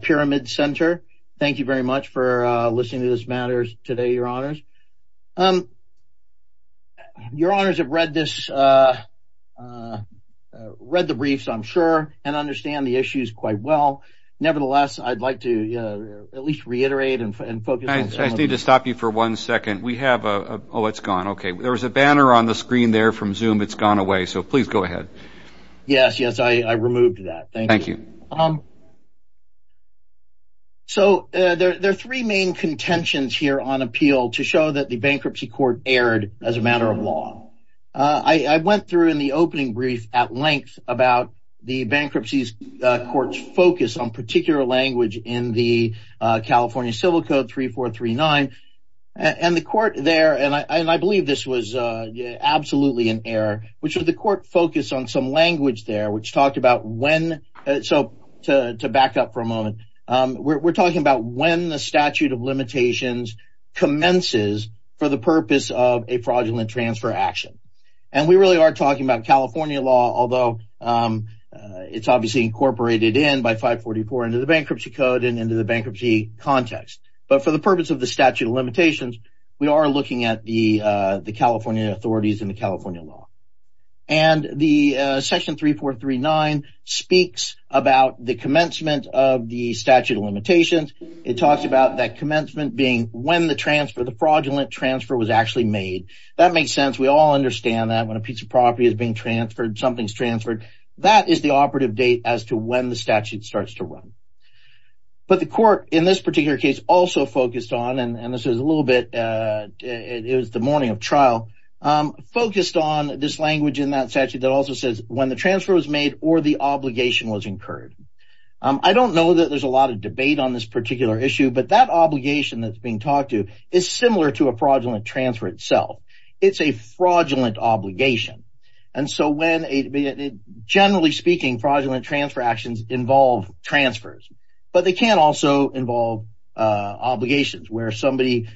Pyramid Center. Thank you very much for listening to this matter today, your honors. Your honors have read this, read the briefs, I'm sure, and understand the issues quite well. Nevertheless, I'd like to at least reiterate and focus. I need to stop you for one second. We have a, oh, it's gone. Okay, there was a banner on the screen there from Zoom. It's gone away, so please go ahead. Yes, yes, I removed that. Thank you. So, there are three main contentions here on appeal to show that the Bankruptcy Court erred as a matter of law. I went through in the opening brief at length about the Bankruptcy Court's focus on particular language in the California Civil Code 3439, and the court there, and I believe this was absolutely an error, which was the court focused on some So, to back up for a moment, we're talking about when the statute of limitations commences for the purpose of a fraudulent transfer action, and we really are talking about California law, although it's obviously incorporated in by 544 into the Bankruptcy Code and into the bankruptcy context, but for the purpose of the statute of limitations, we are looking at the California authorities and the California law, and the section 3439 speaks about the commencement of the statute of limitations. It talks about that commencement being when the transfer, the fraudulent transfer was actually made. That makes sense. We all understand that when a piece of property is being transferred, something's transferred. That is the operative date as to when the statute starts to run, but the court in this particular case also focused on, and this is a little bit, it was the morning of trial, focused on this language in that statute that also says when the transfer was made or the obligation was incurred. I don't know that there's a lot of debate on this particular issue, but that obligation that's being talked to is similar to a fraudulent transfer itself. It's a fraudulent obligation, and so when, generally speaking, fraudulent transfer actions involve transfers, but they can also involve obligations where somebody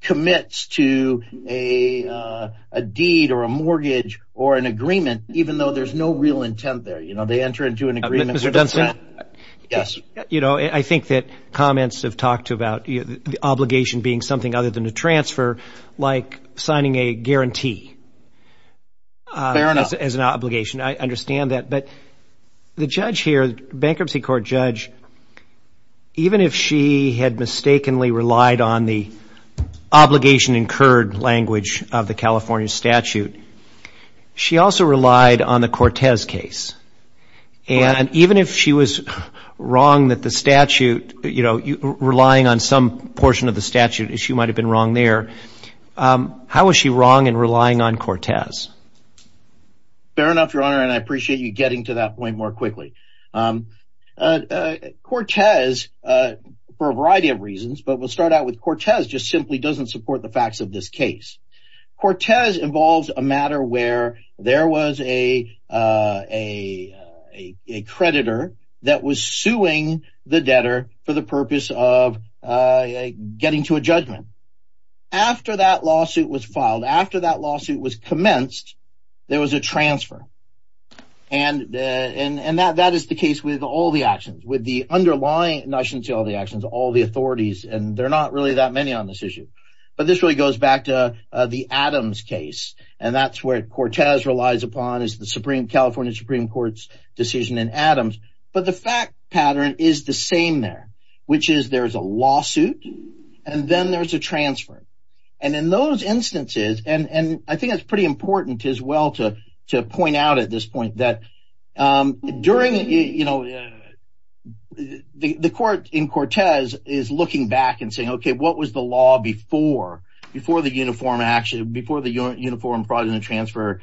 commits to a deed or a mortgage or an agreement, even though there's no real intent there. They enter into an agreement. I think that comments have talked about the obligation being something other than a transfer like signing a guarantee as an obligation. I understand that, but the judge here, bankruptcy court judge, even if she had mistakenly relied on the obligation incurred language of the California statute, she also relied on the Cortez case, and even if she was wrong that the statute, relying on some portion of the statute, she might have been wrong there. How was she wrong in relying on Cortez? Fair enough, Your Honor, and I appreciate you making that point more quickly. Cortez, for a variety of reasons, but we'll start out with Cortez just simply doesn't support the facts of this case. Cortez involves a matter where there was a creditor that was suing the debtor for the purpose of getting to a judgment. After that lawsuit was filed, after that lawsuit was commenced, there was a transfer, and that is the case with all the actions, with the underlying notions of all the actions, all the authorities, and there are not really that many on this issue. But this really goes back to the Adams case, and that's where Cortez relies upon is the California Supreme Court's decision in Adams, but the fact pattern is the same there, which is there's a lawsuit, and then there's a transfer, and in those instances, and I think it's pretty important as well to point out at this point that during, you know, the court in Cortez is looking back and saying, okay, what was the law before, before the uniform action, before the uniform fraudulent transfer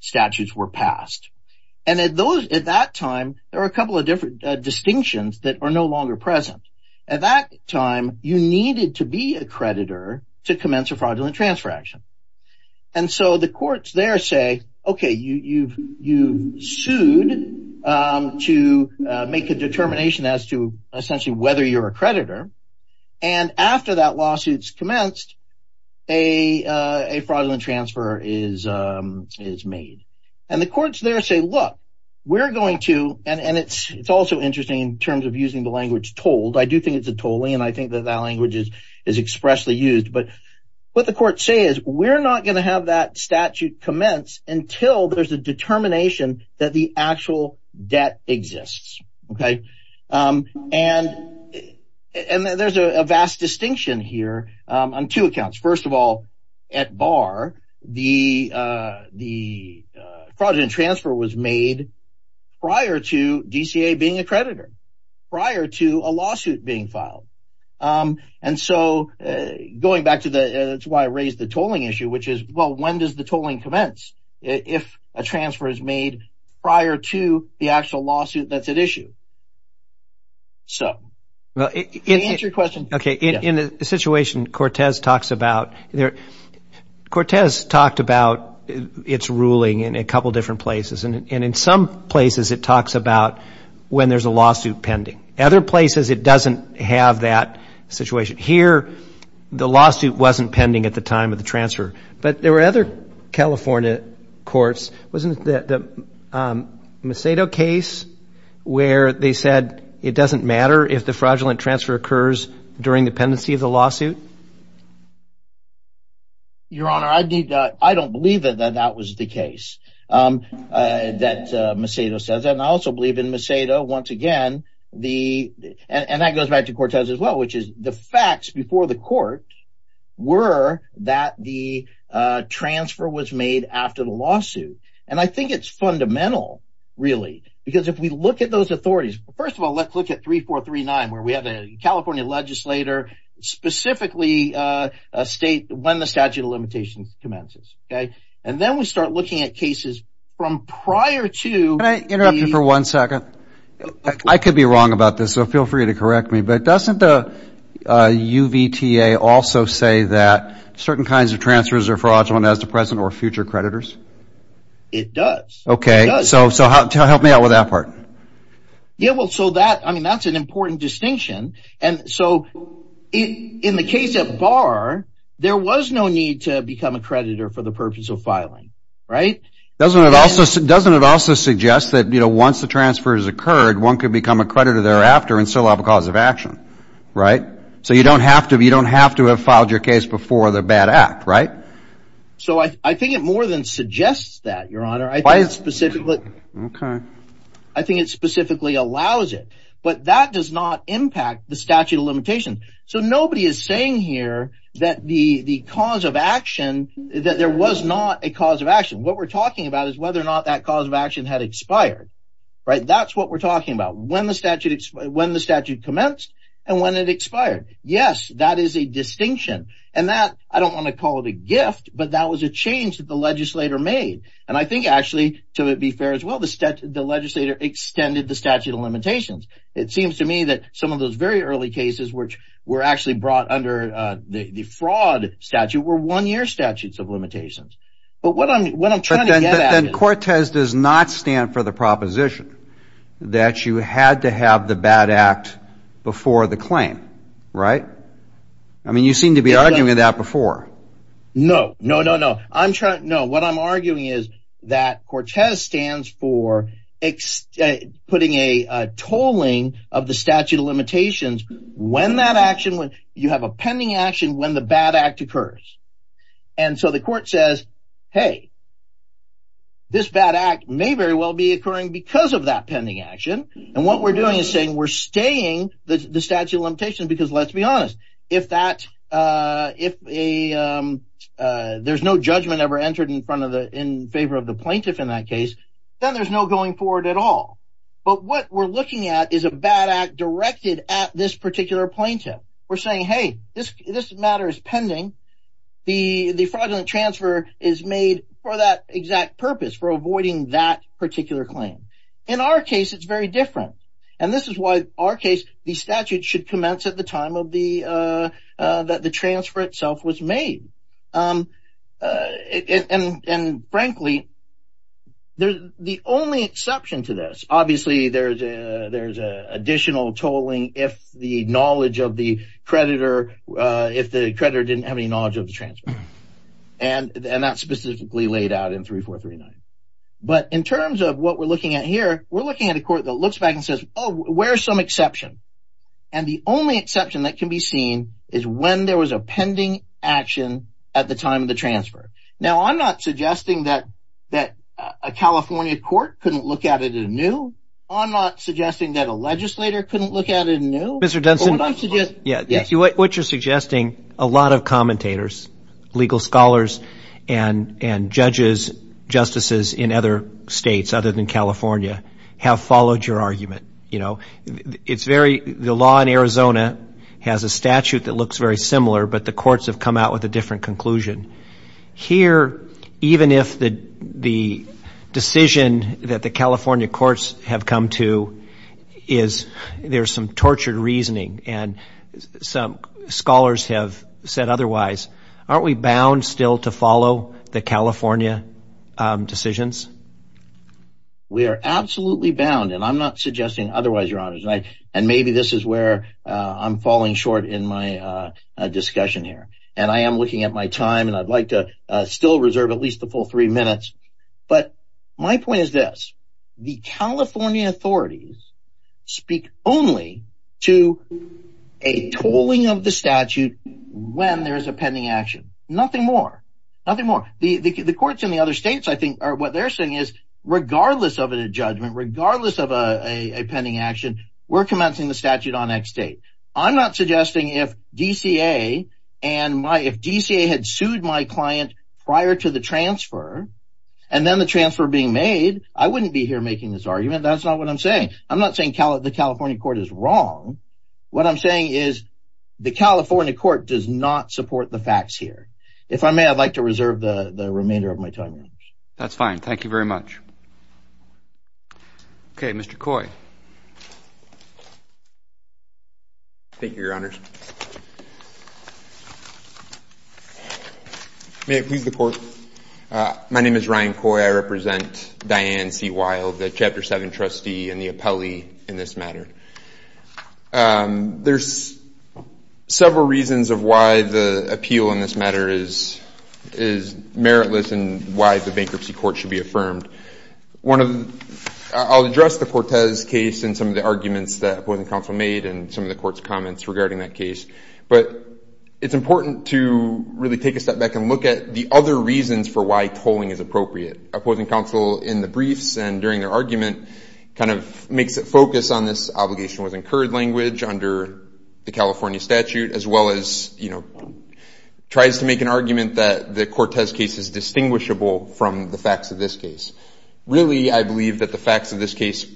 statutes were passed? And at that time, there were a couple of different distinctions that are no longer present. At that time, you needed to be a creditor to make a determination as to essentially whether you're a creditor, and after that lawsuit's commenced, a fraudulent transfer is made. And the courts there say, look, we're going to, and it's also interesting in terms of using the language told. I do think it's a tolling, and I think that that language is expressly used, but what the courts say is we're not going to have that statute commence until there's a determination that the actual debt exists, okay? And there's a vast distinction here on two accounts. First of all, at Barr, the fraudulent transfer was made prior to DCA being a creditor, prior to a lawsuit being issued, which is, well, when does the tolling commence if a transfer is made prior to the actual lawsuit that's at issue? So, to answer your question. Okay, in the situation Cortez talks about, Cortez talked about its ruling in a couple different places, and in some places, it talks about when there's a lawsuit pending. Other places, it doesn't have that situation. Here, the lawsuit wasn't pending at the time of the transfer, but there were other California courts, wasn't it the Macedo case where they said it doesn't matter if the fraudulent transfer occurs during the pendency of the lawsuit? Your Honor, I don't believe that that was the case that Macedo says, and I also believe in Macedo, once again, and that goes back to Cortez as well, which is the facts before the court were that the transfer was made after the lawsuit, and I think it's fundamental really, because if we look at those authorities, first of all, let's look at 3439 where we have a California legislator, specifically a state when the statute of limitations commences, and then we start looking at cases from prior to the- Can I interrupt you for one second? I could be wrong about this, so feel free to correct me, but doesn't the UVTA also say that certain kinds of transfers are fraudulent as to present or future creditors? It does. Okay, so help me out with that part. Yeah, well, so that's an important distinction, and so in the case of Barr, there was no need to become a creditor for the purpose of filing, right? Doesn't it also suggest that once the transfer has occurred, one can become a creditor thereafter and still have a cause of action, right? So you don't have to have filed your case before the bad act, right? So I think it more than suggests that, Your Honor. I think it specifically allows it, but that does not impact the statute of limitations. So nobody is saying here that the cause of action, that there was not a cause of action. What we're talking about is whether or not that cause of action had expired, right? That's what we're talking about, when the statute commenced and when it expired. Yes, that is a distinction, and that, I don't want to call it a gift, but that was a change that the legislator made, and I think actually, to be fair as well, the legislator extended the statute of limitations. It seems to me that some of those very early cases which were actually brought under the fraud statute were one-year statutes of limitations. But what I'm trying to get at is... But then Cortes does not stand for the proposition that you had to have the bad act before the claim, right? I mean, you seem to be arguing that before. No, no, no, no. What I'm arguing is that Cortes stands for putting a tolling of the statute of limitations when that action, you have a pending action when the bad act occurs. And so the court says, hey, this bad act may very well be occurring because of that pending action, and what we're doing is saying we're staying the statute of limitations because let's be honest, if there's no judgment ever entered in favor of the plaintiff in that case, then there's no going forward at all. But what we're looking at is a bad act directed at this particular plaintiff. We're saying, hey, this matter is pending. The fraudulent transfer is made for that exact purpose, for avoiding that particular claim. In our case, it's very different. And this is why in our case, the statute should commence at the time that the transfer itself was made. And frankly, the only exception to this, obviously there's additional tolling if the knowledge of the creditor, if the creditor didn't have any knowledge of the transfer. And that's specifically laid out in 3439. But in terms of what we're looking at here, we're looking at a court that looks back and says, oh, where's some exception? And the only exception that can be seen is when there was a pending action at the time of the transfer. Now, I'm not suggesting that a California court couldn't look at it anew. I'm not suggesting that a legislator couldn't look at it anew. Mr. Dunson, what you're suggesting, a lot of commentators, legal scholars, and judges, justices in other states other than California have followed your argument. The law in Arizona has a statute that looks very similar, but the courts have come out with a different conclusion. Here, even if the decision that the California courts have come to is there's some tortured reasoning and some scholars have said otherwise, aren't we bound still to follow the California decisions? We are absolutely bound. And I'm not suggesting otherwise, Your Honor. And maybe this is where I'm falling short in my discussion here. And I am looking at my time, and I'd like to still reserve at least the full three minutes. But my point is this. The California authorities speak only to a tolling of the statute when there is a pending action. Nothing more. Nothing more. The courts in the other states, I think, what they're saying is regardless of a judgment, regardless of a pending action, we're commencing the statute on X date. I'm not suggesting if DCA and my, if DCA had sued my client prior to the transfer, and then the transfer being made, I wouldn't be here making this argument. That's not what I'm saying. I'm not saying the California court is wrong. What I'm saying is the California court does not support the facts here. If I may, I'd like to reserve the remainder of my time, Your Honor. That's fine. Thank you very much. Okay, Mr. Coy. Thank you, Your Honors. May it please the Court? My name is Ryan Coy. I represent Diane C. Wild, the Chapter 7 trustee and the appellee in this matter. There's several reasons of why the appeal in this matter is meritless and why the bankruptcy court should be affirmed. I'll address the Cortez case and some of the arguments that opposing counsel made and some of the court's comments regarding that case. But it's important to really take a step back and look at the other reasons for why tolling is appropriate. Opposing counsel in the briefs and during their argument kind of makes it focus on this obligation with incurred language under the California statute as well as tries to make an argument that the Cortez case is distinguishable from the facts of this case. Really, I believe that the facts of this case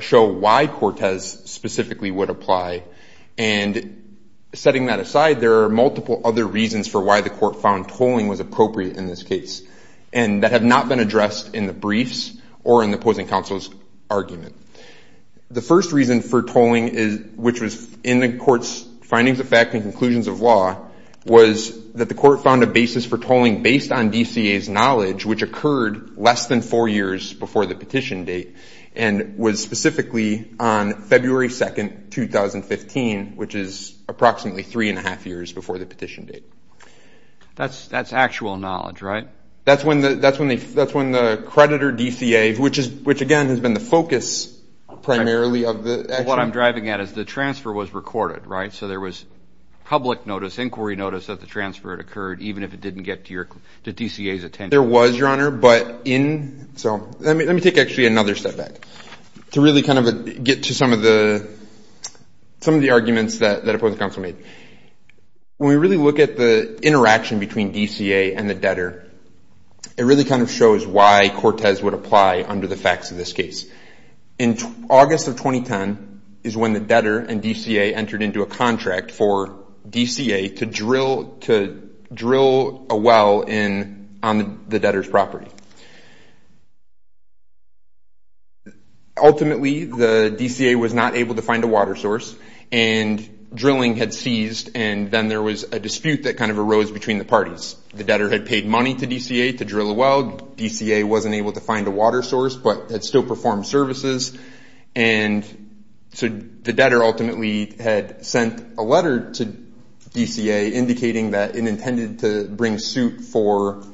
show why Cortez specifically would apply. And setting that aside, there are multiple other reasons for why the court found tolling was appropriate in this case and that have not been addressed in the briefs or in the opposing counsel's argument. The first reason for tolling, which was in the court's findings of fact and conclusions of law, was that the court found a basis for tolling based on DCA's knowledge, which occurred less than four years before the petition date and was specifically on February 2, 2015, which is approximately three and a half years before the petition date. That's actual knowledge, right? That's when the creditor DCA, which again has been the focus primarily of the actual What I'm driving at is the transfer was recorded, right? So there was public notice, inquiry notice that the transfer had occurred even if it didn't get to DCA's attention. There was, Your Honor, but in, so let me take actually another step back to really kind of get to some of the arguments that opposing counsel made. When we really look at the interaction between DCA and the debtor, it really kind of shows why Cortez would apply under the facts of this case. In August of 2010 is when the debtor and DCA entered into a contract for DCA to drill a well on the debtor's property. Ultimately, the DCA was not able to find a water source and drilling had ceased and then there was a dispute that kind of arose between the parties. The debtor had paid money to DCA to drill a well. DCA wasn't able to find a water source but had still performed services and so the debtor ultimately had sent a letter to DCA indicating that it intended to bring suit for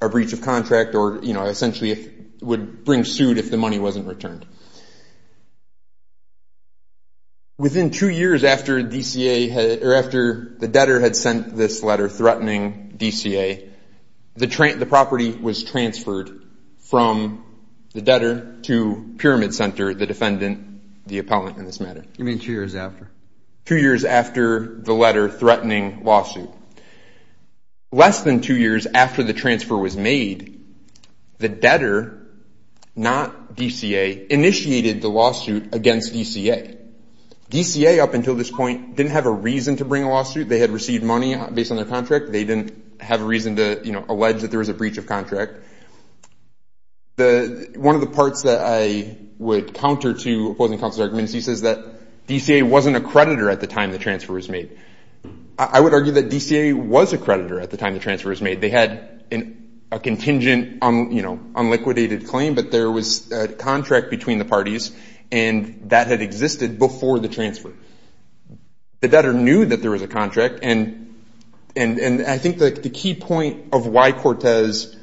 a breach of contract or essentially would bring suit if the money wasn't returned. Within two years after DCA, or after the debtor had sent this letter threatening DCA, the property was transferred from the debtor to Pyramid Center, the defendant, the appellant in this matter. You mean two years after? Two years after the letter threatening lawsuit. Less than two years after the transfer was made, the debtor, not DCA, initiated the lawsuit against DCA. DCA up until this point didn't have a reason to bring a lawsuit. They had received money based on their contract. They didn't have a reason to allege that there was a breach of contract. One of the parts that I would counter to opposing counsel's arguments, he says that DCA wasn't a creditor at the time the transfer was made. I would argue that DCA was a creditor at the time the transfer was made. They had a contingent unliquidated claim but there was a contract between the parties and that had existed before the transfer. The debtor knew that there was a contract. I think the key point of why Cortez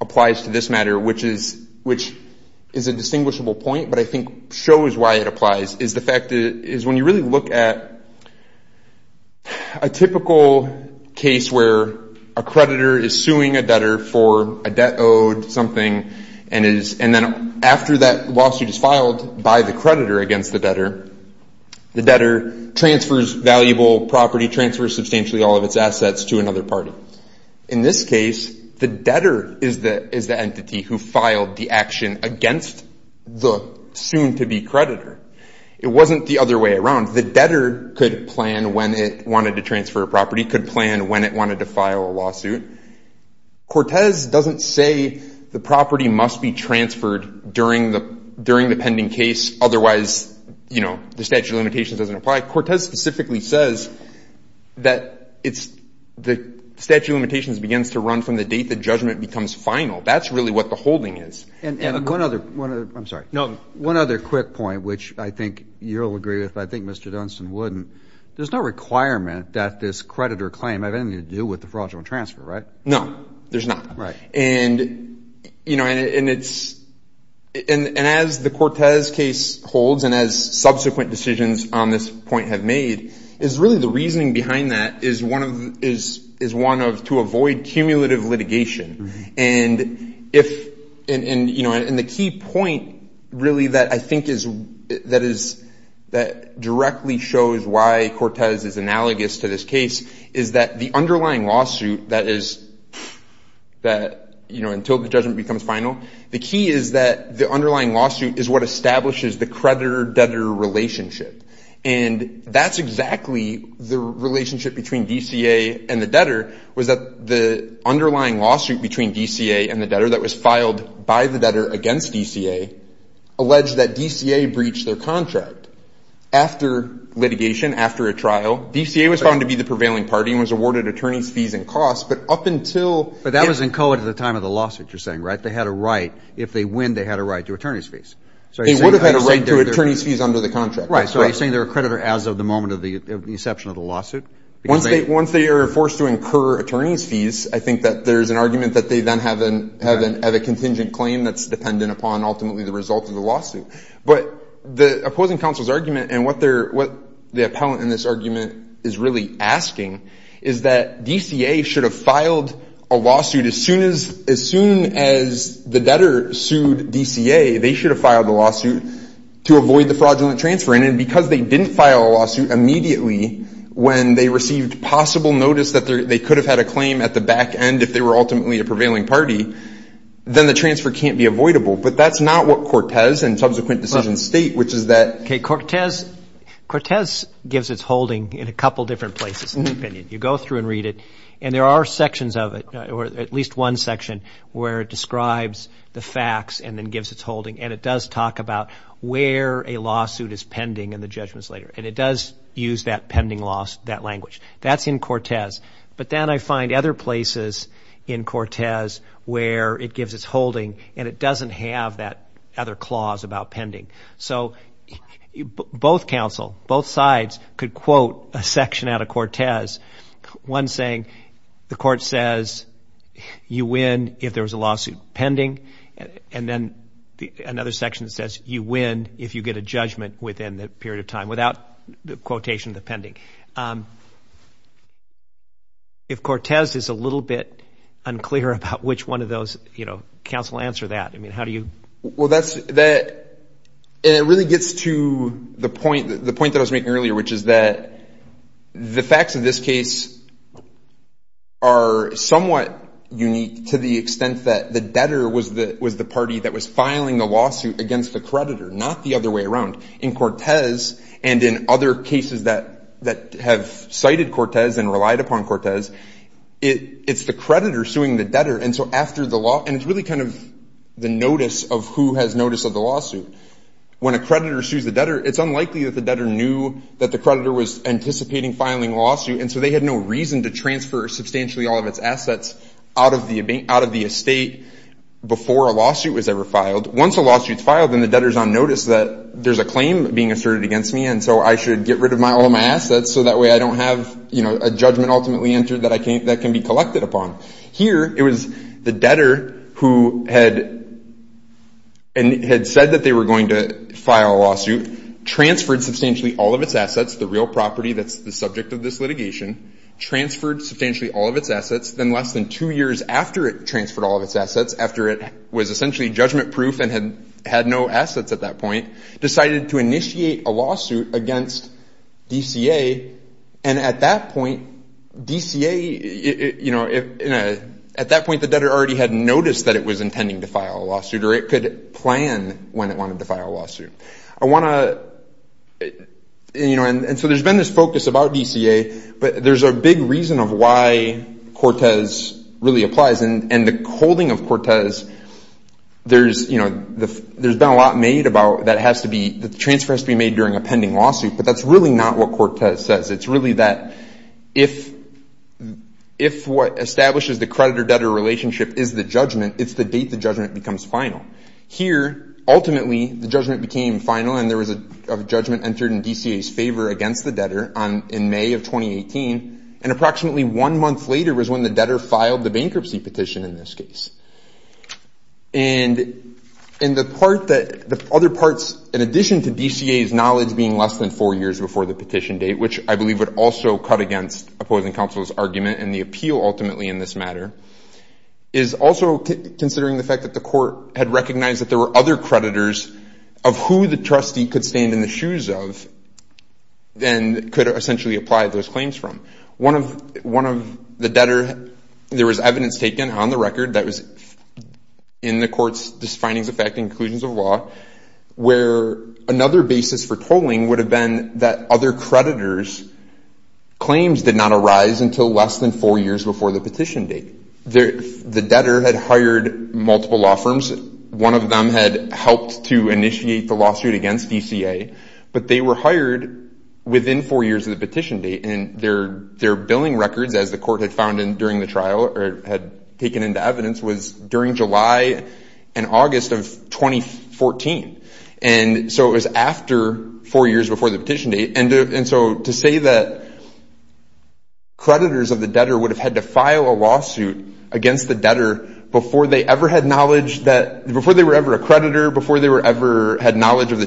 applies to this matter, which is a distinguishable point but I think shows why it applies, is the fact that when you really look at a typical case where a creditor is suing a debtor for a debt owed something and then after that lawsuit is filed by the creditor against the debtor, the debtor transfers valuable property, transfers substantially all of its assets to another party. In this case, the debtor is the entity who filed the action against the soon-to-be creditor. It wasn't the other way around. The debtor could plan when it wanted to transfer a property, could plan when it wanted to file a lawsuit. Cortez doesn't say the property must be transferred during the pending case otherwise the statute of limitations doesn't apply. Cortez specifically says that the statute of limitations begins to run from the date the judgment becomes final. That's really what the holding is. One other quick point, which I think you'll agree with but I think Mr. Dunstan wouldn't. There's no requirement that this creditor claim have anything to do with the fraudulent transfer, right? No, there's not. As the Cortez case holds and as subsequent decisions on this point have made is really the reasoning behind that is one of to avoid cumulative litigation. The key point really that I think is that directly shows why Cortez is analogous to this case is that the underlying lawsuit that is until the judgment becomes final, the key is that the underlying lawsuit is what establishes the creditor-debtor relationship. That's exactly the relationship between DCA and the debtor was that the underlying lawsuit between DCA and the debtor that was filed by the debtor against DCA alleged that DCA after a trial, DCA was found to be the prevailing party and was awarded attorney's fees and costs, but up until... But that was in code at the time of the lawsuit you're saying, right? They had a right. If they win, they had a right to attorney's fees. They would have had a right to attorney's fees under the contract. Right. So you're saying they're a creditor as of the moment of the inception of the lawsuit? Once they are forced to incur attorney's fees, I think that there's an argument that they then have a contingent claim that's dependent upon ultimately the result of the lawsuit. But the opposing counsel's argument and what the appellant in this argument is really asking is that DCA should have filed a lawsuit as soon as the debtor sued DCA, they should have filed the lawsuit to avoid the fraudulent transfer. And because they didn't file a lawsuit immediately when they received possible notice that they could have had a claim at the back end if they were ultimately a prevailing party, then the transfer can't be avoidable. But that's not what Cortez and subsequent decisions state, which is that... Okay, Cortez gives its holding in a couple different places in the opinion. You go through and read it, and there are sections of it, or at least one section, where it describes the facts and then gives its holding. And it does talk about where a lawsuit is pending and the judgments later. And it does use that pending loss, that language. That's in Cortez. But then I find other places in Cortez where it gives its holding and it doesn't have that other clause about pending. So both counsel, both sides could quote a section out of Cortez, one saying the court says you win if there was a lawsuit pending. And then another section says you win if you get a judgment within that period of time, without the quotation of the pending. If Cortez is a little bit unclear about which one of those, you know, counsel answer that. I mean, how do you... Well, that's... And it really gets to the point that I was making earlier, which is that the facts of this case are somewhat unique to the extent that the debtor was the party that was filing the lawsuit against the creditor, not the other way around. In Cortez and in other cases that have cited Cortez and relied upon Cortez, it's the creditor suing the debtor. And so after the law... And it's really kind of the notice of who has notice of the lawsuit. When a creditor sues the debtor, it's unlikely that the debtor knew that the creditor was anticipating filing a lawsuit. And so they had no reason to transfer substantially all of its assets out of the estate before a lawsuit is filed, and the debtor is on notice that there's a claim being asserted against me, and so I should get rid of all of my assets so that way I don't have, you know, a judgment ultimately entered that can be collected upon. Here, it was the debtor who had said that they were going to file a lawsuit, transferred substantially all of its assets, the real property that's the subject of this litigation, transferred substantially all of its assets, then less than two years after it transferred all of its assets, after it was essentially judgment-proof and had had no assets at that point, decided to initiate a lawsuit against DCA, and at that point, DCA, you know, at that point, the debtor already had noticed that it was intending to file a lawsuit or it could plan when it wanted to file a lawsuit. I want to, you know, and so there's been this focus about DCA, but there's a big reason of why Cortez really applies, and the holding of Cortez, there's, you know, there's been a lot made about that has to be, the transfer has to be made during a pending lawsuit, but that's really not what Cortez says. It's really that if what establishes the creditor-debtor relationship is the judgment, it's the date the judgment becomes final. Here, ultimately, the judgment became final, and there was a judgment entered in DCA's favor against the debtor in May of 2018, and approximately one filed the bankruptcy petition in this case, and in the part that the other parts, in addition to DCA's knowledge being less than four years before the petition date, which I believe would also cut against opposing counsel's argument and the appeal ultimately in this matter, is also considering the fact that the court had recognized that there were other creditors of who the trustee could stand in the shoes of and could essentially apply those claims from. One of the debtor, there was evidence taken on the record that was in the court's findings of fact and conclusions of law, where another basis for tolling would have been that other creditors' claims did not arise until less than four years before the petition date. The debtor had hired multiple law firms. One of them had helped to initiate the lawsuit against DCA, but they were hired within four years of the petition date, and their billing records, as the court had found in during the trial, or had taken into evidence, was during July and August of 2014, and so it was after four years before the petition date, and so to say that creditors of the debtor would have had to file a lawsuit against the creditor before they ever had knowledge of the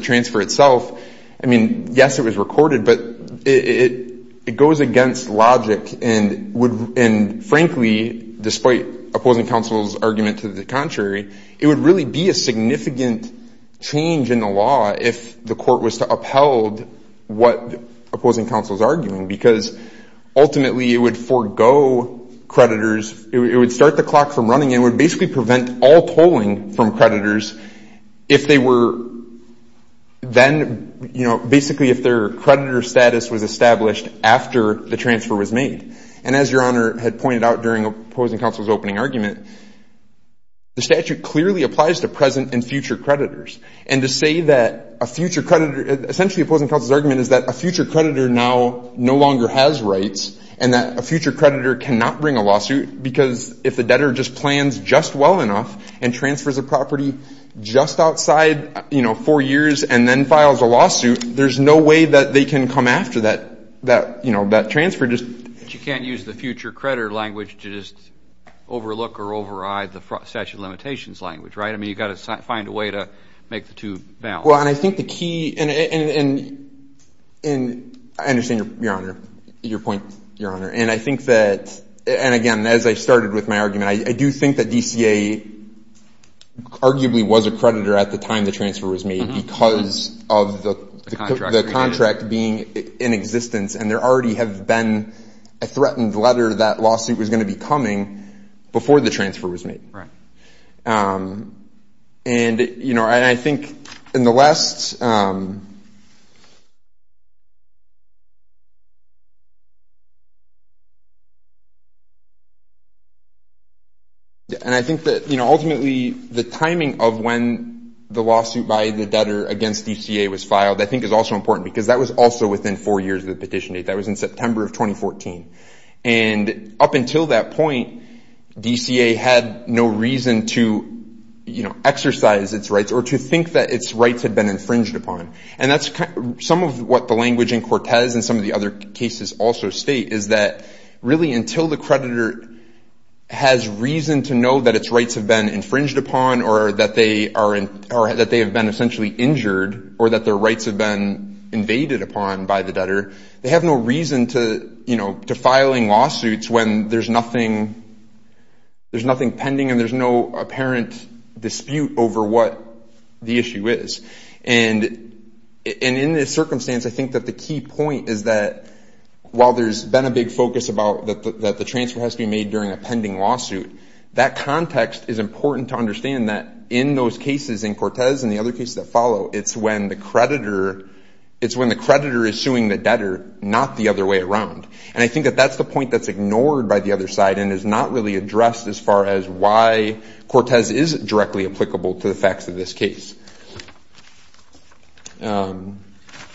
transfer itself, I mean, yes, it was recorded, but it goes against logic, and frankly, despite opposing counsel's argument to the contrary, it would really be a significant change in the law if the court was to upheld what opposing counsel's arguing, because ultimately it would forego creditors, it would start the clock from running, it would basically prevent all tolling from creditors if they were then, you know, basically if their creditor status was established after the transfer was made. And as Your Honor had pointed out during opposing counsel's opening argument, the statute clearly applies to present and future creditors, and to say that a future creditor, essentially opposing counsel's argument is that a future creditor now no longer has rights, and that a future creditor just plans just well enough and transfers a property just outside, you know, four years and then files a lawsuit, there's no way that they can come after that, you know, that transfer, just — But you can't use the future creditor language to just overlook or override the statute of limitations language, right? I mean, you've got to find a way to make the two balance. Well, and I think the key — and I understand, Your Honor, your point, Your Honor, and I think that — and again, as I started with my argument, I do think that DCA arguably was a creditor at the time the transfer was made because of the contract being in existence, and there already have been a threatened letter that lawsuit was going to be coming before the transfer was made. Right. And, you know, and I think in the last — And I think that, you know, ultimately, the timing of when the lawsuit by the debtor against DCA was filed, I think, is also important because that was also within four years of the petition date. That was in September of 2014. And up until that point, DCA had no reason to, you know, exercise its rights or to think that its rights had been infringed upon. And that's some of what the language in Cortez and some of the other cases also state, is that really until the creditor has reason to know that its rights have been infringed upon or that they are — or that they have been essentially injured or that their rights have been invaded upon by the debtor, they have no reason to, you know, to filing lawsuits when there's nothing pending and there's no apparent dispute over what the issue is. And in this circumstance, I think that the key point is that while there's been a big focus about that the transfer has to be made during a pending lawsuit, that context is important to understand that in those cases in Cortez and the other cases that the creditor — it's when the creditor is suing the debtor, not the other way around. And I think that that's the point that's ignored by the other side and is not really addressed as far as why Cortez is directly applicable to the facts of this case.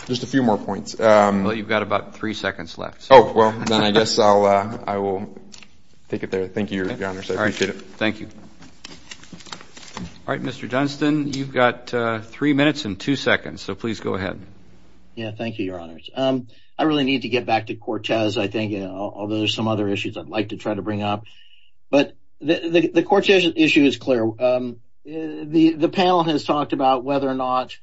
Just a few more points. Well, you've got about three seconds left. Oh, well, then I guess I'll — I will take it there. Thank you, Your Honor. I appreciate it. Thank you. All right, Mr. Dunstan, you've got three minutes and two seconds. So please go ahead. Yeah, thank you, Your Honors. I really need to get back to Cortez, I think, although there's some other issues I'd like to try to bring up. But the Cortez issue is clear. The panel has talked about whether or not,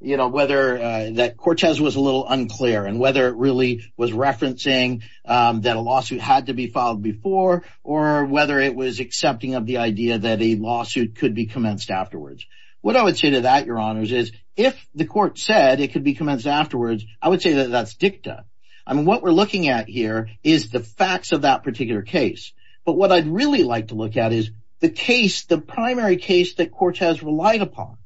you know, whether that Cortez was a little unclear and whether it really was referencing that a lawsuit had to be filed before or whether it was accepting of the idea that a lawsuit could be commenced afterwards. What I would say to that, Your Honors, is if the court said it could be commenced afterwards, I would say that that's dicta. I mean, what we're looking at here is the facts of that particular case. But what I'd really like to look at is the case, the primary case that Cortez relied upon.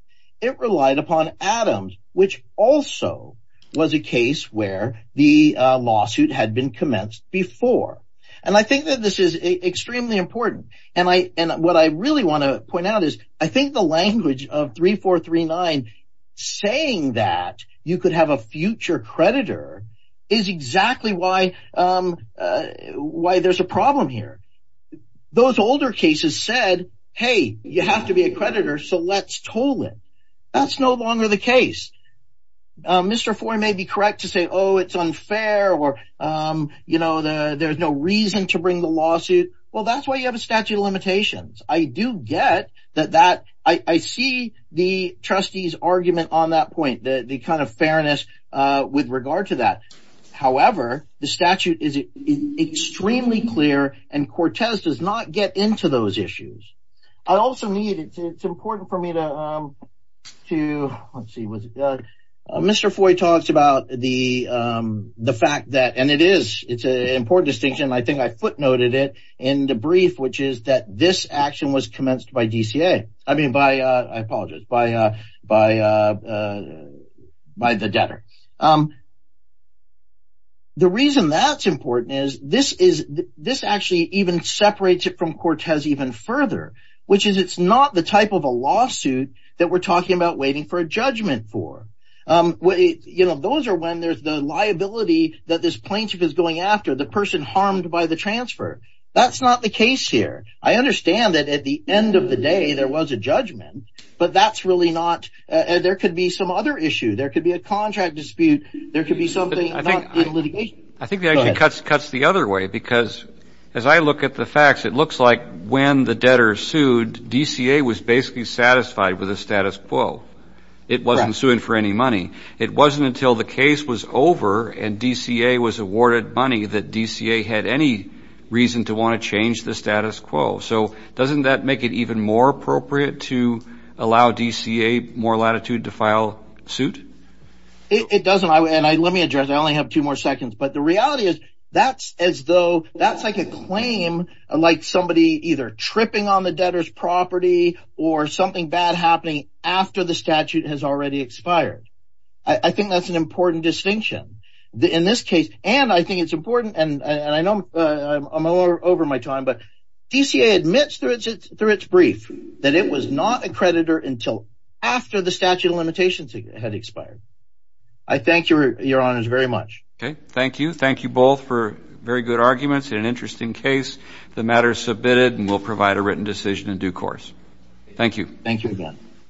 It relied upon Adams, which also was a case where the lawsuit had been commenced before. And I think that this is extremely important. And what I really want to point out is I think the language of 3439 saying that you could have a future creditor is exactly why there's a problem here. Those older cases said, hey, you have to be a creditor, so let's toll it. That's no longer the case. Mr. Fourney may be correct to say, oh, it's unfair or, you know, there's no reason to bring the lawsuit. Well, that's why you have a statute of limitations. I do get that. I see the trustee's argument on that point, the kind of fairness with regard to that. However, the statute is extremely clear, and Cortez does not get into those issues. I also need, it's important for me to, let's see, Mr. It is, it's an important distinction, and I think I footnoted it in the brief, which is that this action was commenced by DCA. I mean, by, I apologize, by the debtor. The reason that's important is this is, this actually even separates it from Cortez even further, which is it's not the type of a lawsuit that we're talking about waiting for a judgment for. You know, those are when there's the liability that this plaintiff is going after, the person harmed by the transfer. That's not the case here. I understand that at the end of the day, there was a judgment, but that's really not, there could be some other issue. There could be a contract dispute. There could be something not in litigation. I think the action cuts the other way, because as I look at the facts, it looks like when the debtor sued, DCA was basically satisfied with the status quo. It wasn't suing for any money. It wasn't until the case was over and DCA was awarded money that DCA had any reason to want to change the status quo. So doesn't that make it even more appropriate to allow DCA more latitude to file suit? It doesn't, and let me address, I only have two more seconds, but the reality is that's as though, that's like a claim, like somebody either tripping on the debtor's property or something bad happening after the statute has already expired. I think that's an important distinction in this case, and I think it's important, and I know I'm a little over my time, but DCA admits through its brief that it was not a creditor until after the statute of limitations had expired. I thank your honors very much. Okay, thank you. Thank you both for very good arguments and an interesting case. The matter is submitted, and we'll provide a written decision in due course. Thank you. Thank you again.